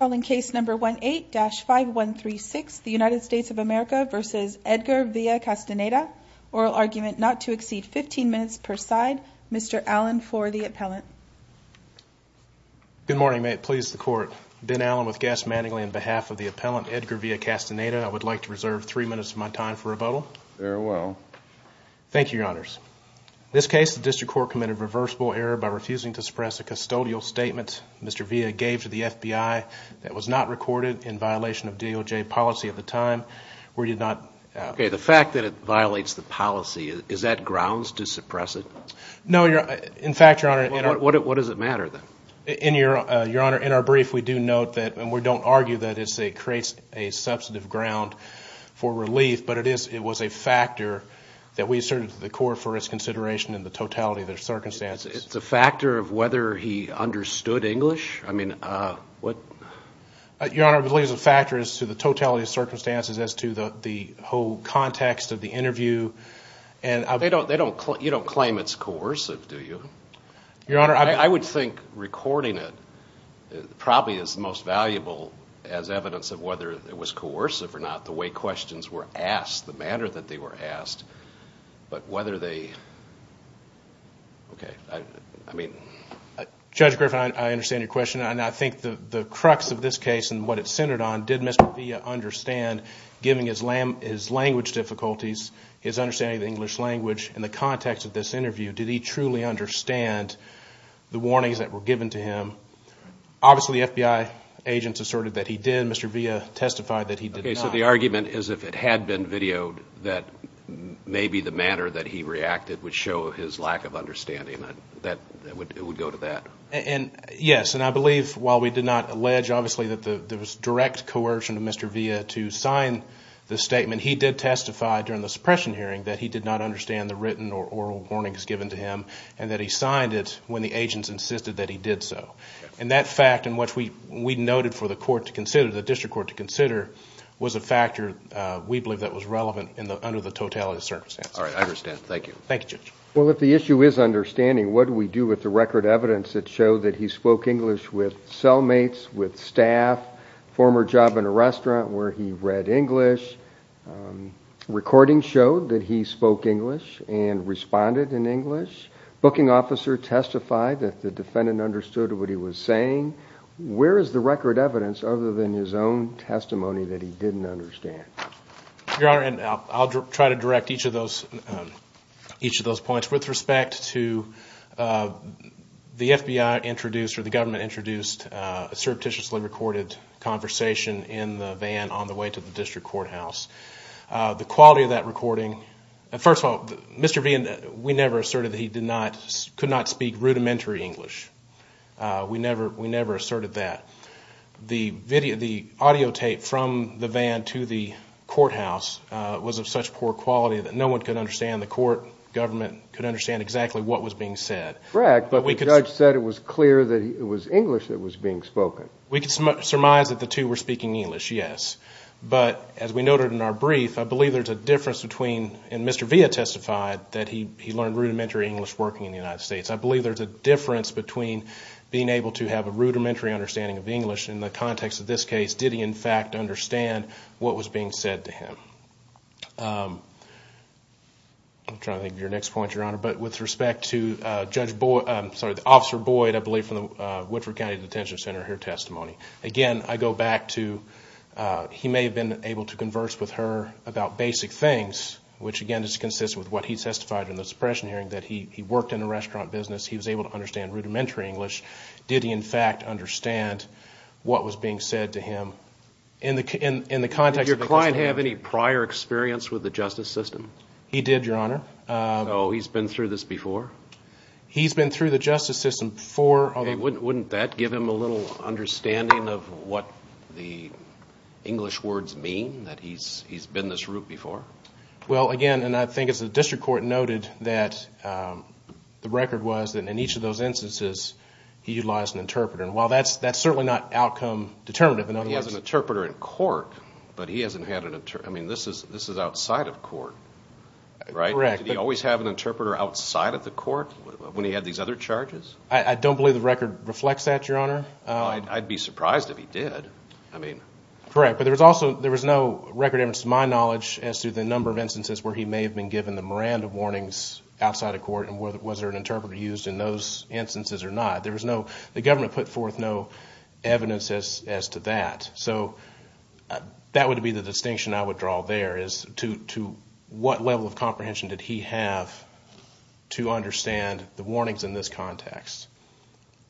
Calling case number 18-5136, the United States of America v. Edgar Villa-Castaneda. Oral argument not to exceed 15 minutes per side. Mr. Allen for the appellant. Good morning. May it please the court. Ben Allen with Gas Manningly on behalf of the appellant Edgar Villa-Castaneda. I would like to reserve three minutes of my time for rebuttal. Very well. Thank you, your honors. In this case, the district court committed reversible error by refusing to suppress a custodial statement. Mr. Villa gave to the FBI that was not recorded in violation of DOJ policy at the time. We did not Okay, the fact that it violates the policy, is that grounds to suppress it? No, in fact, your honor What does it matter then? In your honor, in our brief, we do note that, and we don't argue that it creates a substantive ground for relief, but it was a factor that we asserted to the court for its consideration in the totality of the circumstances. It's a factor of whether he understood English? Your honor, I believe it's a factor as to the totality of circumstances, as to the whole context of the interview. You don't claim it's coercive, do you? Your honor, I I would think recording it probably is the most valuable as evidence of whether it was coercive or not, the way questions were asked, the manner that they were asked, but whether they Okay, I mean Judge Griffin, I understand your question, and I think the crux of this case and what it's centered on, did Mr. Villa understand, given his language difficulties, his understanding of the English language, in the context of this interview, did he truly understand the warnings that were given to him? Obviously, the FBI agents asserted that he did, Mr. Villa testified that he did not Okay, so the argument is if it had been videoed, that maybe the manner that he reacted would show his lack of understanding. It would go to that. Yes, and I believe, while we did not allege, obviously, that there was direct coercion of Mr. Villa to sign the statement, he did testify during the suppression hearing that he did not understand the written or oral warnings given to him, and that he signed it when the agents insisted that he did so. And that fact, and what we noted for the court to consider, the district court to consider, was a factor we believe that was relevant under the totality of circumstances. All right, I understand. Thank you. Thank you, Judge. Well, if the issue is understanding, what do we do with the record evidence that showed that he spoke English with cellmates, with staff, former job in a restaurant where he read English, recordings showed that he spoke English and responded in English, booking officer testified that the defendant understood what he was saying. Where is the record evidence other than his own testimony that he didn't understand? Your Honor, and I'll try to direct each of those points with respect to the FBI introduced, or the government introduced a surreptitiously recorded conversation in the van on the way to the district courthouse. The quality of that recording, first of all, Mr. Vian, we never asserted that he could not speak rudimentary English. We never asserted that. The audio tape from the van to the courthouse was of such poor quality that no one could understand, the court, government, could understand exactly what was being said. Correct, but the judge said it was clear that it was English that was being spoken. We can surmise that the two were speaking English, yes. But as we noted in our brief, I believe there's a difference between, and Mr. Vian testified that he learned rudimentary English working in the United States. I believe there's a difference between being able to have a rudimentary understanding of English in the context of this case, did he in fact understand what was being said to him. I'm trying to think of your next point, Your Honor, but with respect to Judge Boyd, I'm sorry, Officer Boyd, I believe from the Woodford County Detention Center, her testimony. Again, I go back to he may have been able to converse with her about basic things, which again is consistent with what he testified in the suppression hearing, that he worked in a restaurant business, he was able to understand rudimentary English. Did he in fact understand what was being said to him in the context of this case? Did your client have any prior experience with the justice system? He did, Your Honor. Oh, he's been through this before? He's been through the justice system before. Wouldn't that give him a little understanding of what the English words mean, that he's been this route before? Well, again, and I think as the district court noted, that the record was that in each of those instances he utilized an interpreter. And while that's certainly not outcome determinative, in other words. He has an interpreter in court, but he hasn't had an interpreter. I mean, this is outside of court, right? Correct. Did he always have an interpreter outside of the court when he had these other charges? I don't believe the record reflects that, Your Honor. I'd be surprised if he did. Correct. But there was no record evidence to my knowledge as to the number of instances where he may have been given the Miranda warnings outside of court and was there an interpreter used in those instances or not. The government put forth no evidence as to that. So that would be the distinction I would draw there, is to what level of comprehension did he have to understand the warnings in this context?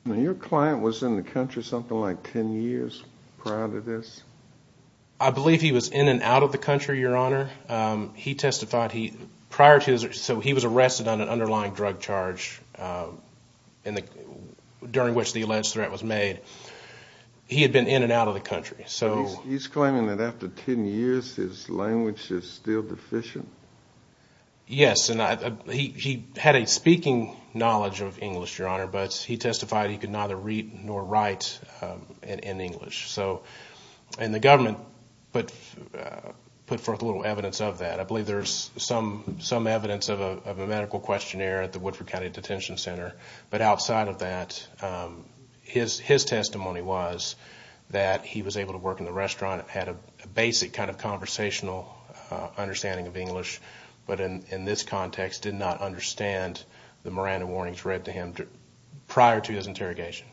Now, your client was in the country something like 10 years prior to this? I believe he was in and out of the country, Your Honor. He testified prior to this. So he was arrested on an underlying drug charge during which the alleged threat was made. He had been in and out of the country. He's claiming that after 10 years his language is still deficient? Yes, and he had a speaking knowledge of English, Your Honor, but he testified he could neither read nor write in English. And the government put forth a little evidence of that. I believe there's some evidence of a medical questionnaire at the Woodford County Detention Center. But outside of that, his testimony was that he was able to work in the restaurant, had a basic kind of conversational understanding of English, but in this context did not understand the Miranda warnings read to him prior to his interrogation.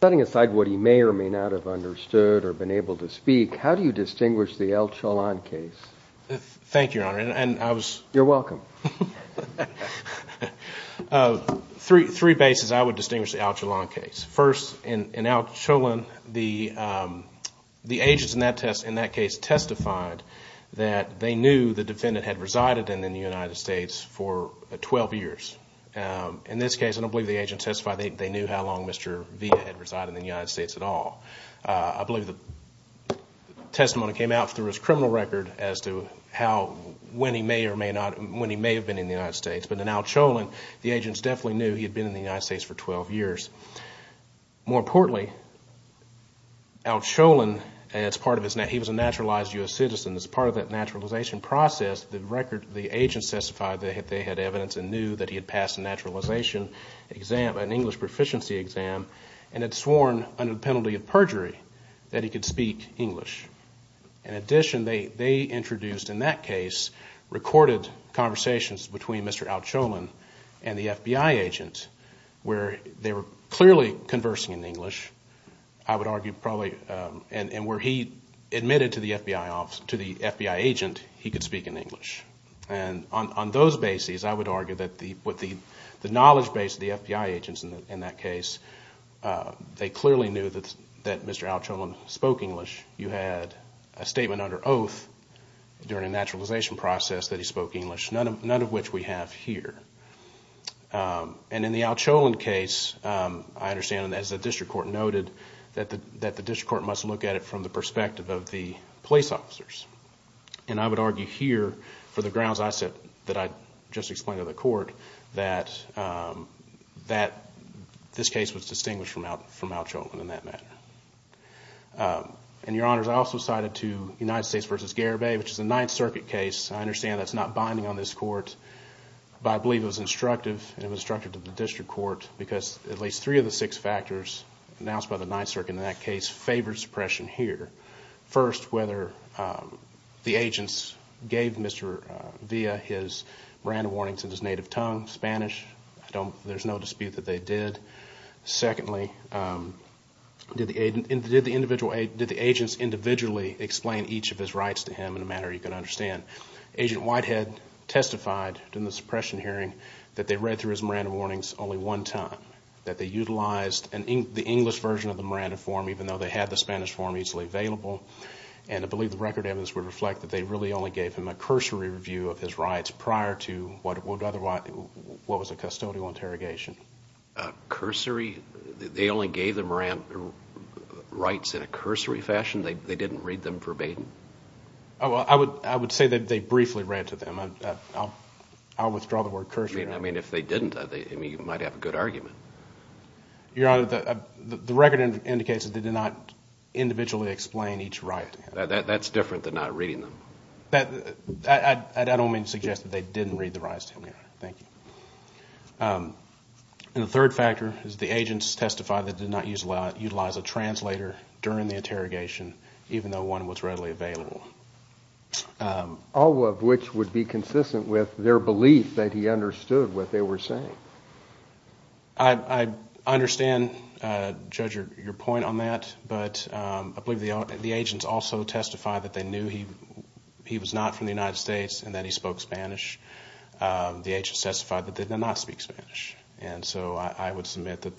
Setting aside what he may or may not have understood or been able to speak, how do you distinguish the El Cholon case? Thank you, Your Honor. You're welcome. Three bases I would distinguish the El Cholon case. First, in El Cholon, the agents in that case testified that they knew the defendant had resided in the United States for 12 years. In this case, I don't believe the agents testified they knew how long Mr. Villa had resided in the United States at all. I believe the testimony came out through his criminal record as to when he may or may not, when he may have been in the United States. But in El Cholon, the agents definitely knew he had been in the United States for 12 years. More importantly, El Cholon, he was a naturalized U.S. citizen. As part of that naturalization process, the agents testified they had evidence and knew that he had passed a naturalization exam, an English proficiency exam, and had sworn under the penalty of perjury that he could speak English. In addition, they introduced in that case recorded conversations between Mr. El Cholon and the FBI agent where they were clearly conversing in English, I would argue, and where he admitted to the FBI agent he could speak in English. On those bases, I would argue that with the knowledge base of the FBI agents in that case, they clearly knew that Mr. El Cholon spoke English. You had a statement under oath during a naturalization process that he spoke English, none of which we have here. In the El Cholon case, I understand, as the district court noted, that the district court must look at it from the perspective of the police officers. I would argue here, for the grounds I just explained to the court, that this case was distinguished from El Cholon in that matter. Your Honors, I also cited United States v. Garibay, which is a Ninth Circuit case. I understand that's not binding on this court, but I believe it was instructive. It was instructive to the district court because at least three of the six factors announced by the Ninth Circuit in that case favored suppression here. First, whether the agents gave Mr. Villa his Miranda warnings in his native tongue, Spanish. There's no dispute that they did. Secondly, did the agents individually explain each of his rights to him in a manner you can understand? Agent Whitehead testified in the suppression hearing that they read through his Miranda warnings only one time. That they utilized the English version of the Miranda form, even though they had the Spanish form easily available. I believe the record evidence would reflect that they really only gave him a cursory review of his rights prior to what was a custodial interrogation. Cursory? They only gave the Miranda rights in a cursory fashion? They didn't read them verbatim? I would say that they briefly read to them. I'll withdraw the word cursory. I mean, if they didn't, you might have a good argument. Your Honor, the record indicates that they did not individually explain each right. That's different than not reading them. I don't mean to suggest that they didn't read the rights to him, Your Honor. Thank you. And the third factor is the agents testified that they did not utilize a translator during the interrogation, even though one was readily available. All of which would be consistent with their belief that he understood what they were saying. I understand, Judge, your point on that, but I believe the agents also testified that they knew he was not from the United States and that he spoke Spanish. The agents testified that they did not speak Spanish. And so I would submit that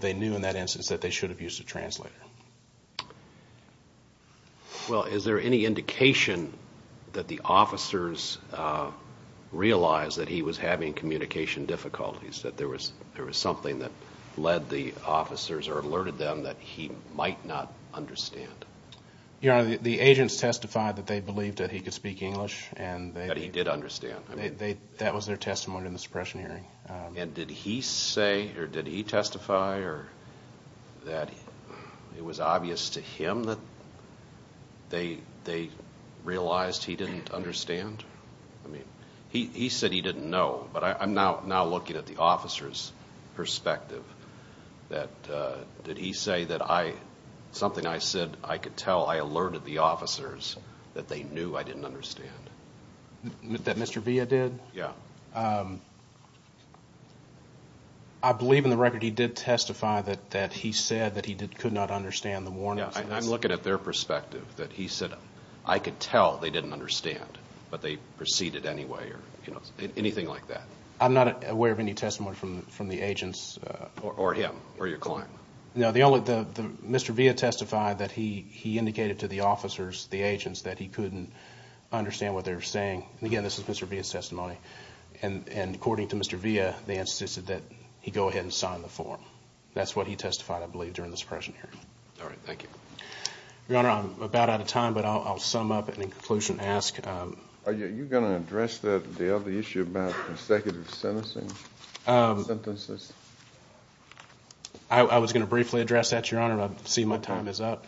they knew in that instance that they should have used a translator. Well, is there any indication that the officers realized that he was having communication difficulties, that there was something that led the officers or alerted them that he might not understand? Your Honor, the agents testified that they believed that he could speak English. That he did understand. That was their testimony in the suppression hearing. And did he say or did he testify that it was obvious to him that they realized he didn't understand? He said he didn't know, but I'm now looking at the officer's perspective. Did he say that something I said I could tell I alerted the officers that they knew I didn't understand? That Mr. Villa did? Yes. I believe in the record he did testify that he said that he could not understand the warnings. I'm looking at their perspective. That he said, I could tell they didn't understand, but they proceeded anyway. Anything like that. I'm not aware of any testimony from the agents. Or him. Or your client. No. Mr. Villa testified that he indicated to the officers, the agents, that he couldn't understand what they were saying. Again, this is Mr. Villa's testimony. And according to Mr. Villa, they insisted that he go ahead and sign the form. That's what he testified, I believe, during the suppression hearing. All right. Thank you. Your Honor, I'm about out of time, but I'll sum up and in conclusion ask. Are you going to address the issue about consecutive sentencing? Sentences? I was going to briefly address that, Your Honor. I see my time is up.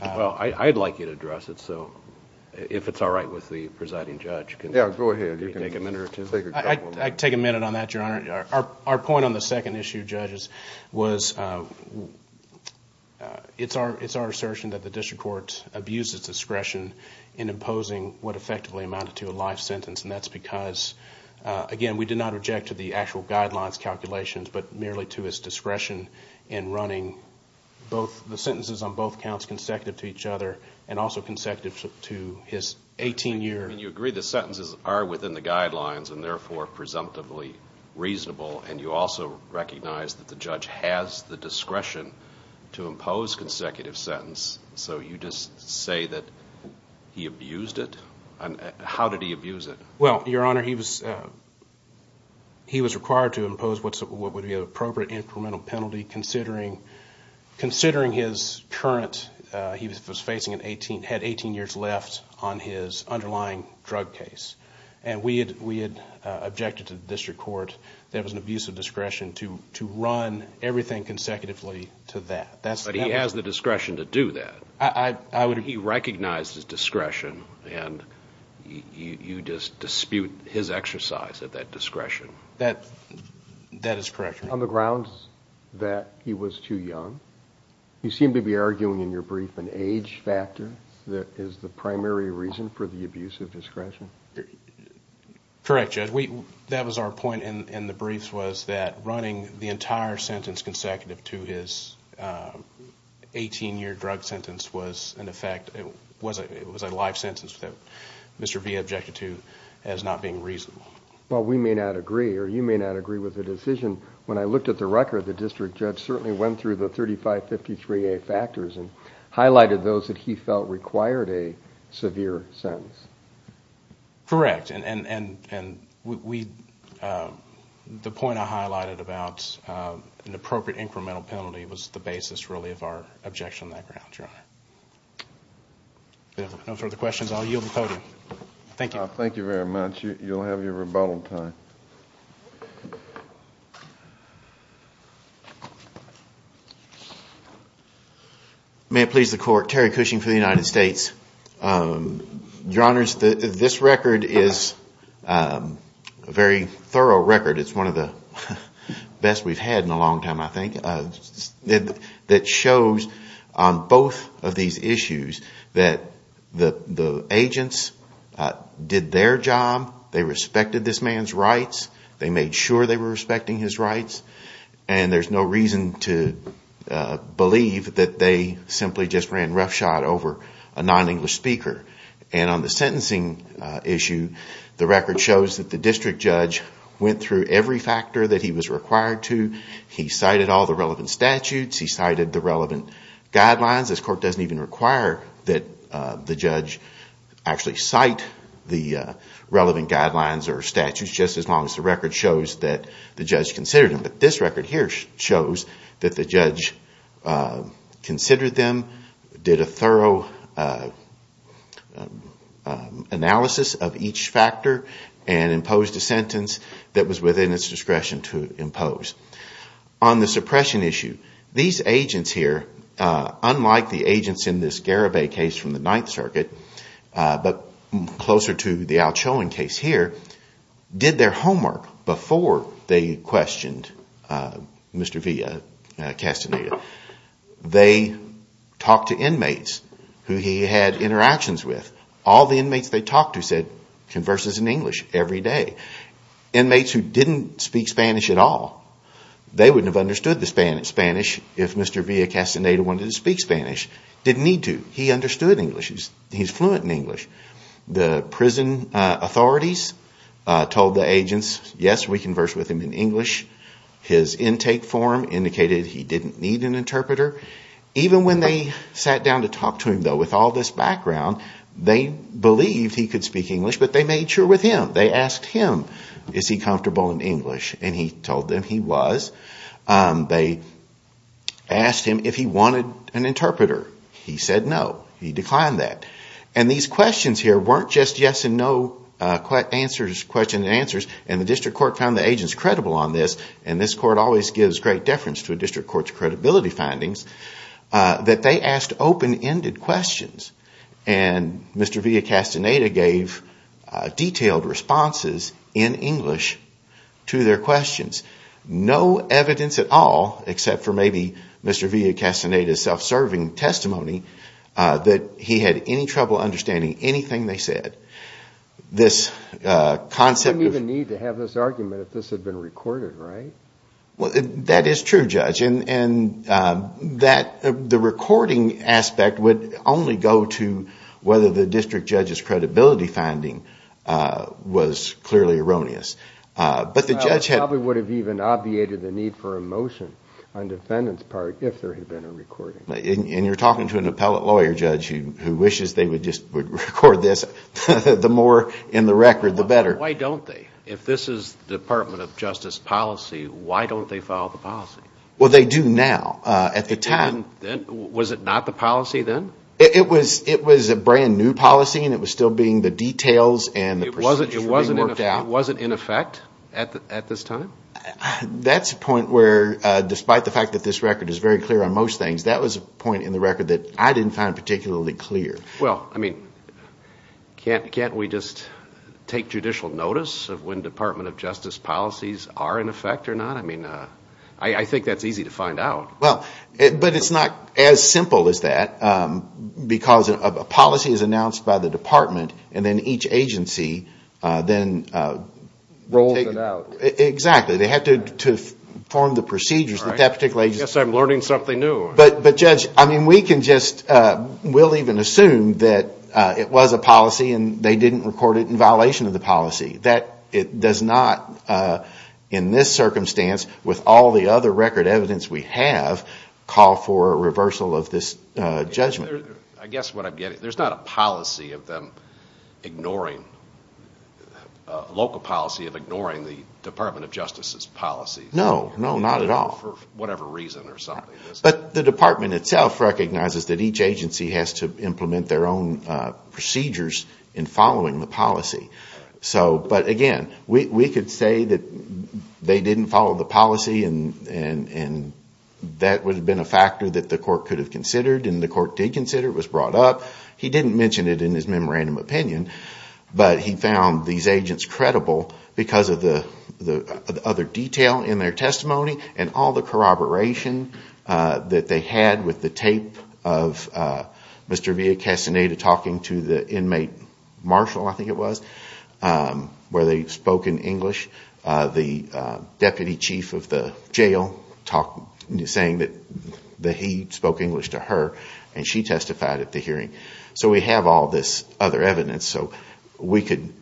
Well, I'd like you to address it, so if it's all right with the presiding judge. Yeah, go ahead. Take a minute or two. Take a couple of minutes. I'd take a minute on that, Your Honor. Our point on the second issue, judges, was it's our assertion that the district court abused its discretion in imposing what effectively amounted to a life sentence. And that's because, again, we did not reject the actual guidelines calculations, but merely to its discretion in running the sentences on both counts consecutive to each other and also consecutive to his 18-year. And you agree the sentences are within the guidelines and, therefore, presumptively reasonable. And you also recognize that the judge has the discretion to impose consecutive sentence. So you just say that he abused it? How did he abuse it? Well, Your Honor, he was required to impose what would be an appropriate incremental penalty, considering his current, he had 18 years left on his underlying drug case. And we had objected to the district court that it was an abuse of discretion to run everything consecutively to that. But he has the discretion to do that. He recognized his discretion, and you just dispute his exercise of that discretion. That is correct, Your Honor. On the grounds that he was too young, you seem to be arguing in your brief an age factor that is the primary reason for the abuse of discretion. Correct, Judge. That was our point in the briefs was that running the entire sentence consecutive to his 18-year drug sentence was, in effect, it was a live sentence that Mr. Vee objected to as not being reasonable. Well, we may not agree, or you may not agree with the decision. When I looked at the record, the district judge certainly went through the 3553A factors and highlighted those that he felt required a severe sentence. Correct. And the point I highlighted about an appropriate incremental penalty was the basis, really, of our objection on that ground, Your Honor. If there are no further questions, I'll yield the podium. Thank you. Thank you very much. You'll have your rebuttal time. May it please the Court, Terry Cushing for the United States. Your Honors, this record is a very thorough record. It's one of the best we've had in a long time, I think, that shows on both of these issues that the agents did their job, they respected this man's rights, they made sure they were respecting his rights, and there's no reason to believe that they simply just ran roughshod over a non-English speaker. And on the sentencing issue, the record shows that the district judge went through every factor that he was required to. He cited all the relevant statutes, he cited the relevant guidelines. This Court doesn't even require that the judge actually cite the relevant guidelines or statutes, just as long as the record shows that the judge considered them. But this record here shows that the judge considered them, did a thorough analysis of each factor, and imposed a sentence that was within its discretion to impose. On the suppression issue, these agents here, unlike the agents in this Garabay case from the Ninth Circuit, but closer to the Alchon case here, did their homework before they questioned Mr. Villa-Castaneda. They talked to inmates who he had interactions with. All the inmates they talked to said, converses in English every day. Inmates who didn't speak Spanish at all, they wouldn't have understood the Spanish if Mr. Villa-Castaneda wanted to speak Spanish. He understood English, he's fluent in English. The prison authorities told the agents, yes, we conversed with him in English. His intake form indicated he didn't need an interpreter. Even when they sat down to talk to him, though, with all this background, they believed he could speak English, but they made sure with him. They asked him, is he comfortable in English, and he told them he was. They asked him if he wanted an interpreter. He said no. He declined that. And these questions here weren't just yes and no questions and answers, and the district court found the agents credible on this, and this court always gives great deference to a district court's credibility findings, that they asked open-ended questions. And Mr. Villa-Castaneda gave detailed responses in English to their questions. No evidence at all, except for maybe Mr. Villa-Castaneda's self-serving testimony, that he had any trouble understanding anything they said. This concept of— You wouldn't even need to have this argument if this had been recorded, right? That is true, Judge. And the recording aspect would only go to whether the district judge's credibility finding was clearly erroneous. It probably would have even obviated the need for a motion on the defendant's part if there had been a recording. And you're talking to an appellate lawyer, Judge, who wishes they would just record this. The more in the record, the better. Why don't they? If this is the Department of Justice policy, why don't they follow the policy? Well, they do now. Was it not the policy then? It was a brand-new policy, and it was still being—the details and the procedures were being worked out. So it wasn't in effect at this time? That's a point where, despite the fact that this record is very clear on most things, that was a point in the record that I didn't find particularly clear. Well, I mean, can't we just take judicial notice of when Department of Justice policies are in effect or not? I mean, I think that's easy to find out. Well, but it's not as simple as that, because a policy is announced by the department, and then each agency then rolls it out. Exactly. They have to form the procedures that that particular agency— I guess I'm learning something new. But, Judge, I mean, we can just—we'll even assume that it was a policy and they didn't record it in violation of the policy. It does not, in this circumstance, with all the other record evidence we have, call for a reversal of this judgment. I guess what I'm getting—there's not a policy of them ignoring— a local policy of ignoring the Department of Justice's policies. No, no, not at all. For whatever reason or something. But the department itself recognizes that each agency has to implement their own procedures in following the policy. But, again, we could say that they didn't follow the policy and that would have been a factor that the court could have considered, and the court did consider. It was brought up. He didn't mention it in his memorandum opinion, but he found these agents credible because of the other detail in their testimony and all the corroboration that they had with the tape of Mr. Villa-Castaneda talking to the inmate marshal, I think it was, where they spoke in English. The deputy chief of the jail is saying that he spoke English to her, and she testified at the hearing. So we have all this other evidence. So we could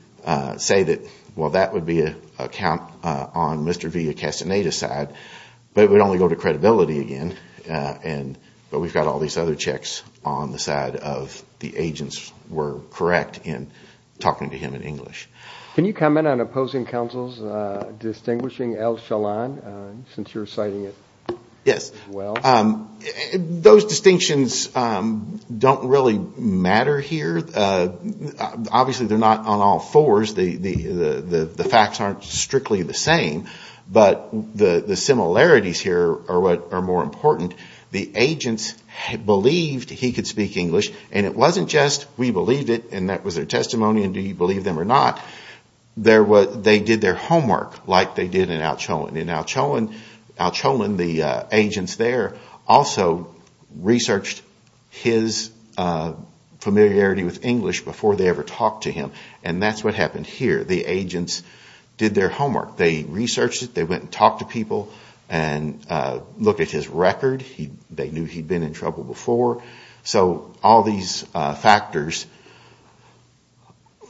say that, well, that would be a count on Mr. Villa-Castaneda's side, but it would only go to credibility again. But we've got all these other checks on the side of the agents were correct in talking to him in English. Can you comment on opposing counsels distinguishing Al-Shalaan, since you're citing it as well? Yes. Those distinctions don't really matter here. Obviously they're not on all fours. The facts aren't strictly the same. But the similarities here are what are more important. The agents believed he could speak English, and it wasn't just we believed it and that was their testimony and do you believe them or not. They did their homework like they did in Al-Shalaan. In Al-Shalaan, the agents there also researched his familiarity with English before they ever talked to him, and that's what happened here. The agents did their homework. They researched it. They went and talked to people and looked at his record. They knew he'd been in trouble before. So all these factors,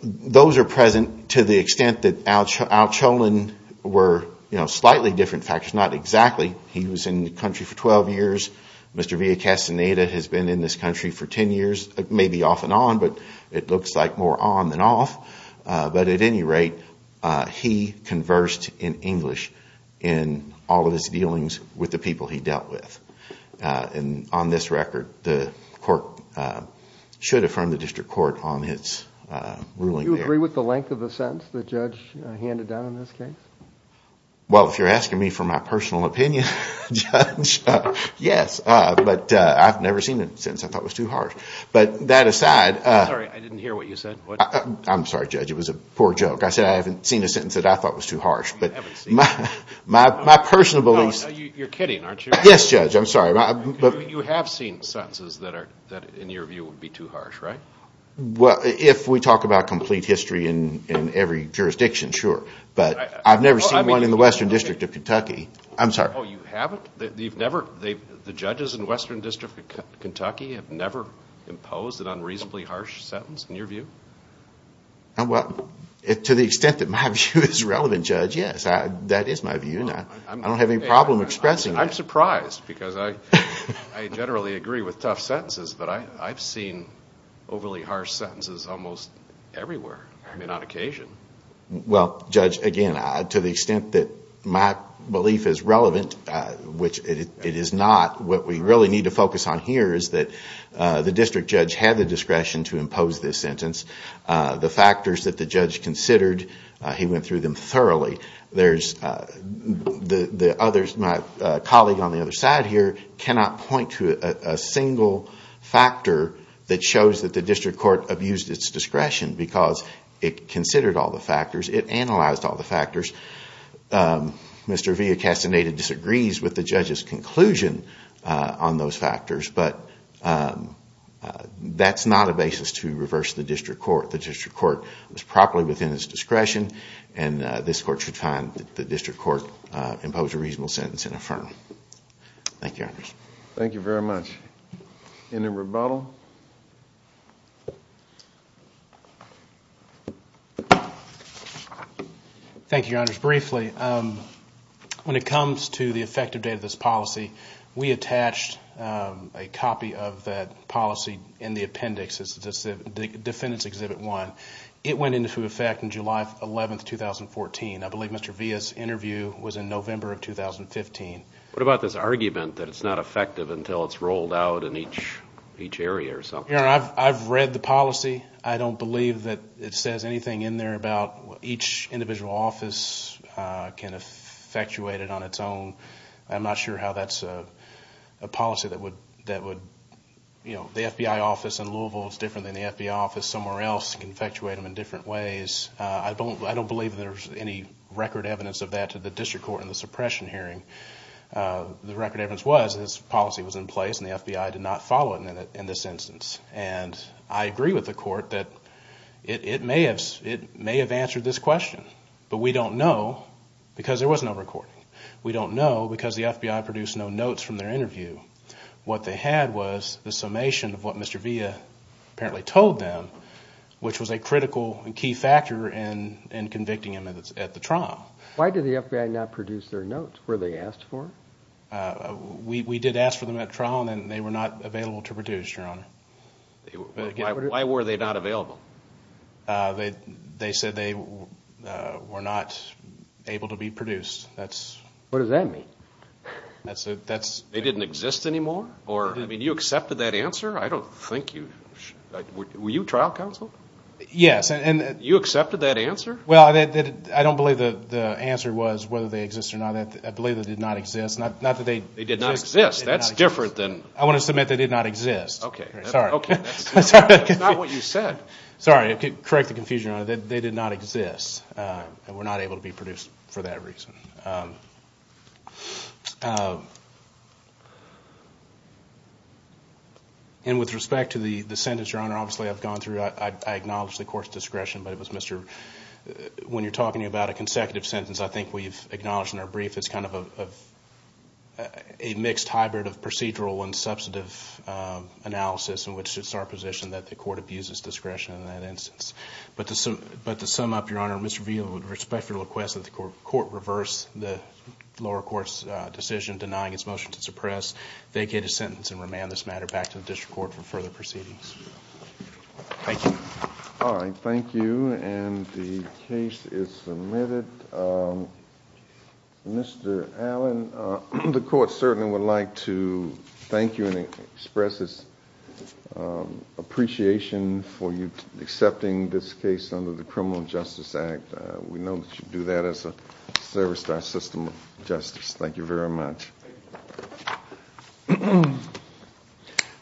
those are present to the extent that Al-Shalaan were slightly different factors. Not exactly. He was in the country for 12 years. Mr. Villa-Castaneda has been in this country for 10 years. Maybe off and on, but it looks like more on than off. But at any rate, he conversed in English in all of his dealings with the people he dealt with. And on this record, the court should affirm the district court on his ruling there. Do you agree with the length of the sentence the judge handed down in this case? Well, if you're asking me for my personal opinion, Judge, yes. But I've never seen a sentence I thought was too harsh. But that aside. I'm sorry. I didn't hear what you said. I'm sorry, Judge. It was a poor joke. I said I haven't seen a sentence that I thought was too harsh. You haven't seen it? My personal beliefs. No, you're kidding, aren't you? Yes, Judge. I'm sorry. You have seen sentences that, in your view, would be too harsh, right? Well, if we talk about complete history in every jurisdiction, sure. But I've never seen one in the Western District of Kentucky. I'm sorry. Oh, you haven't? The judges in the Western District of Kentucky have never imposed an unreasonably harsh sentence, in your view? Well, to the extent that my view is relevant, Judge, yes. That is my view, and I don't have any problem expressing it. I'm surprised, because I generally agree with tough sentences. But I've seen overly harsh sentences almost everywhere, on occasion. Well, Judge, again, to the extent that my belief is relevant, which it is not, what we really need to focus on here is that the district judge had the discretion to impose this sentence. The factors that the judge considered, he went through them thoroughly. My colleague on the other side here cannot point to a single factor that shows that the district court abused its discretion, because it considered all the factors, it analyzed all the factors. Mr. Villacastaneda disagrees with the judge's conclusion on those factors, but that's not a basis to reverse the district court. The district court was properly within its discretion, and this court should find that the district court imposed a reasonable sentence and affirm. Thank you, Your Honors. Thank you very much. Any rebuttal? Thank you, Your Honors. Briefly, when it comes to the effective date of this policy, we attached a copy of that policy in the appendix. It's the Defendant's Exhibit 1. It went into effect on July 11, 2014. I believe Mr. Villa's interview was in November of 2015. What about this argument that it's not effective until it's rolled out in each area or something? Your Honor, I've read the policy. I don't believe that it says anything in there about each individual office can effectuate it on its own. I'm not sure how that's a policy that would, you know, the FBI office in Louisville is different than the FBI office somewhere else can effectuate them in different ways. I don't believe there's any record evidence of that to the district court in the suppression hearing. The record evidence was that this policy was in place, and the FBI did not follow it in this instance. And I agree with the court that it may have answered this question, but we don't know because there was no recording. We don't know because the FBI produced no notes from their interview. What they had was the summation of what Mr. Villa apparently told them, which was a critical and key factor in convicting him at the trial. Why did the FBI not produce their notes? Were they asked for? We did ask for them at trial, and they were not available to produce, Your Honor. Why were they not available? They said they were not able to be produced. What does that mean? They didn't exist anymore? I mean, you accepted that answer? I don't think you should. Were you trial counsel? Yes. You accepted that answer? Well, I don't believe the answer was whether they exist or not. I believe they did not exist. They did not exist. That's different than. I want to submit they did not exist. Okay. Sorry. That's not what you said. Sorry. Correct the confusion, Your Honor. They did not exist and were not able to be produced for that reason. With respect to the sentence, Your Honor, obviously I've gone through it. I acknowledge the court's discretion, but it was Mr. When you're talking about a consecutive sentence, I think we've acknowledged in our brief it's kind of a mixed hybrid of procedural and substantive analysis in which it's our position that the court abuses discretion in that instance. But to sum up, Your Honor, Mr. Veal, with respect to your request that the court reverse the lower court's decision denying its motion to suppress, they get a sentence and remand this matter back to the district court for further proceedings. Thank you. All right. Thank you. And the case is submitted. Mr. Allen, the court certainly would like to thank you and express its appreciation for you accepting this case under the Criminal Justice Act. We know that you do that as a service to our system of justice. Thank you very much.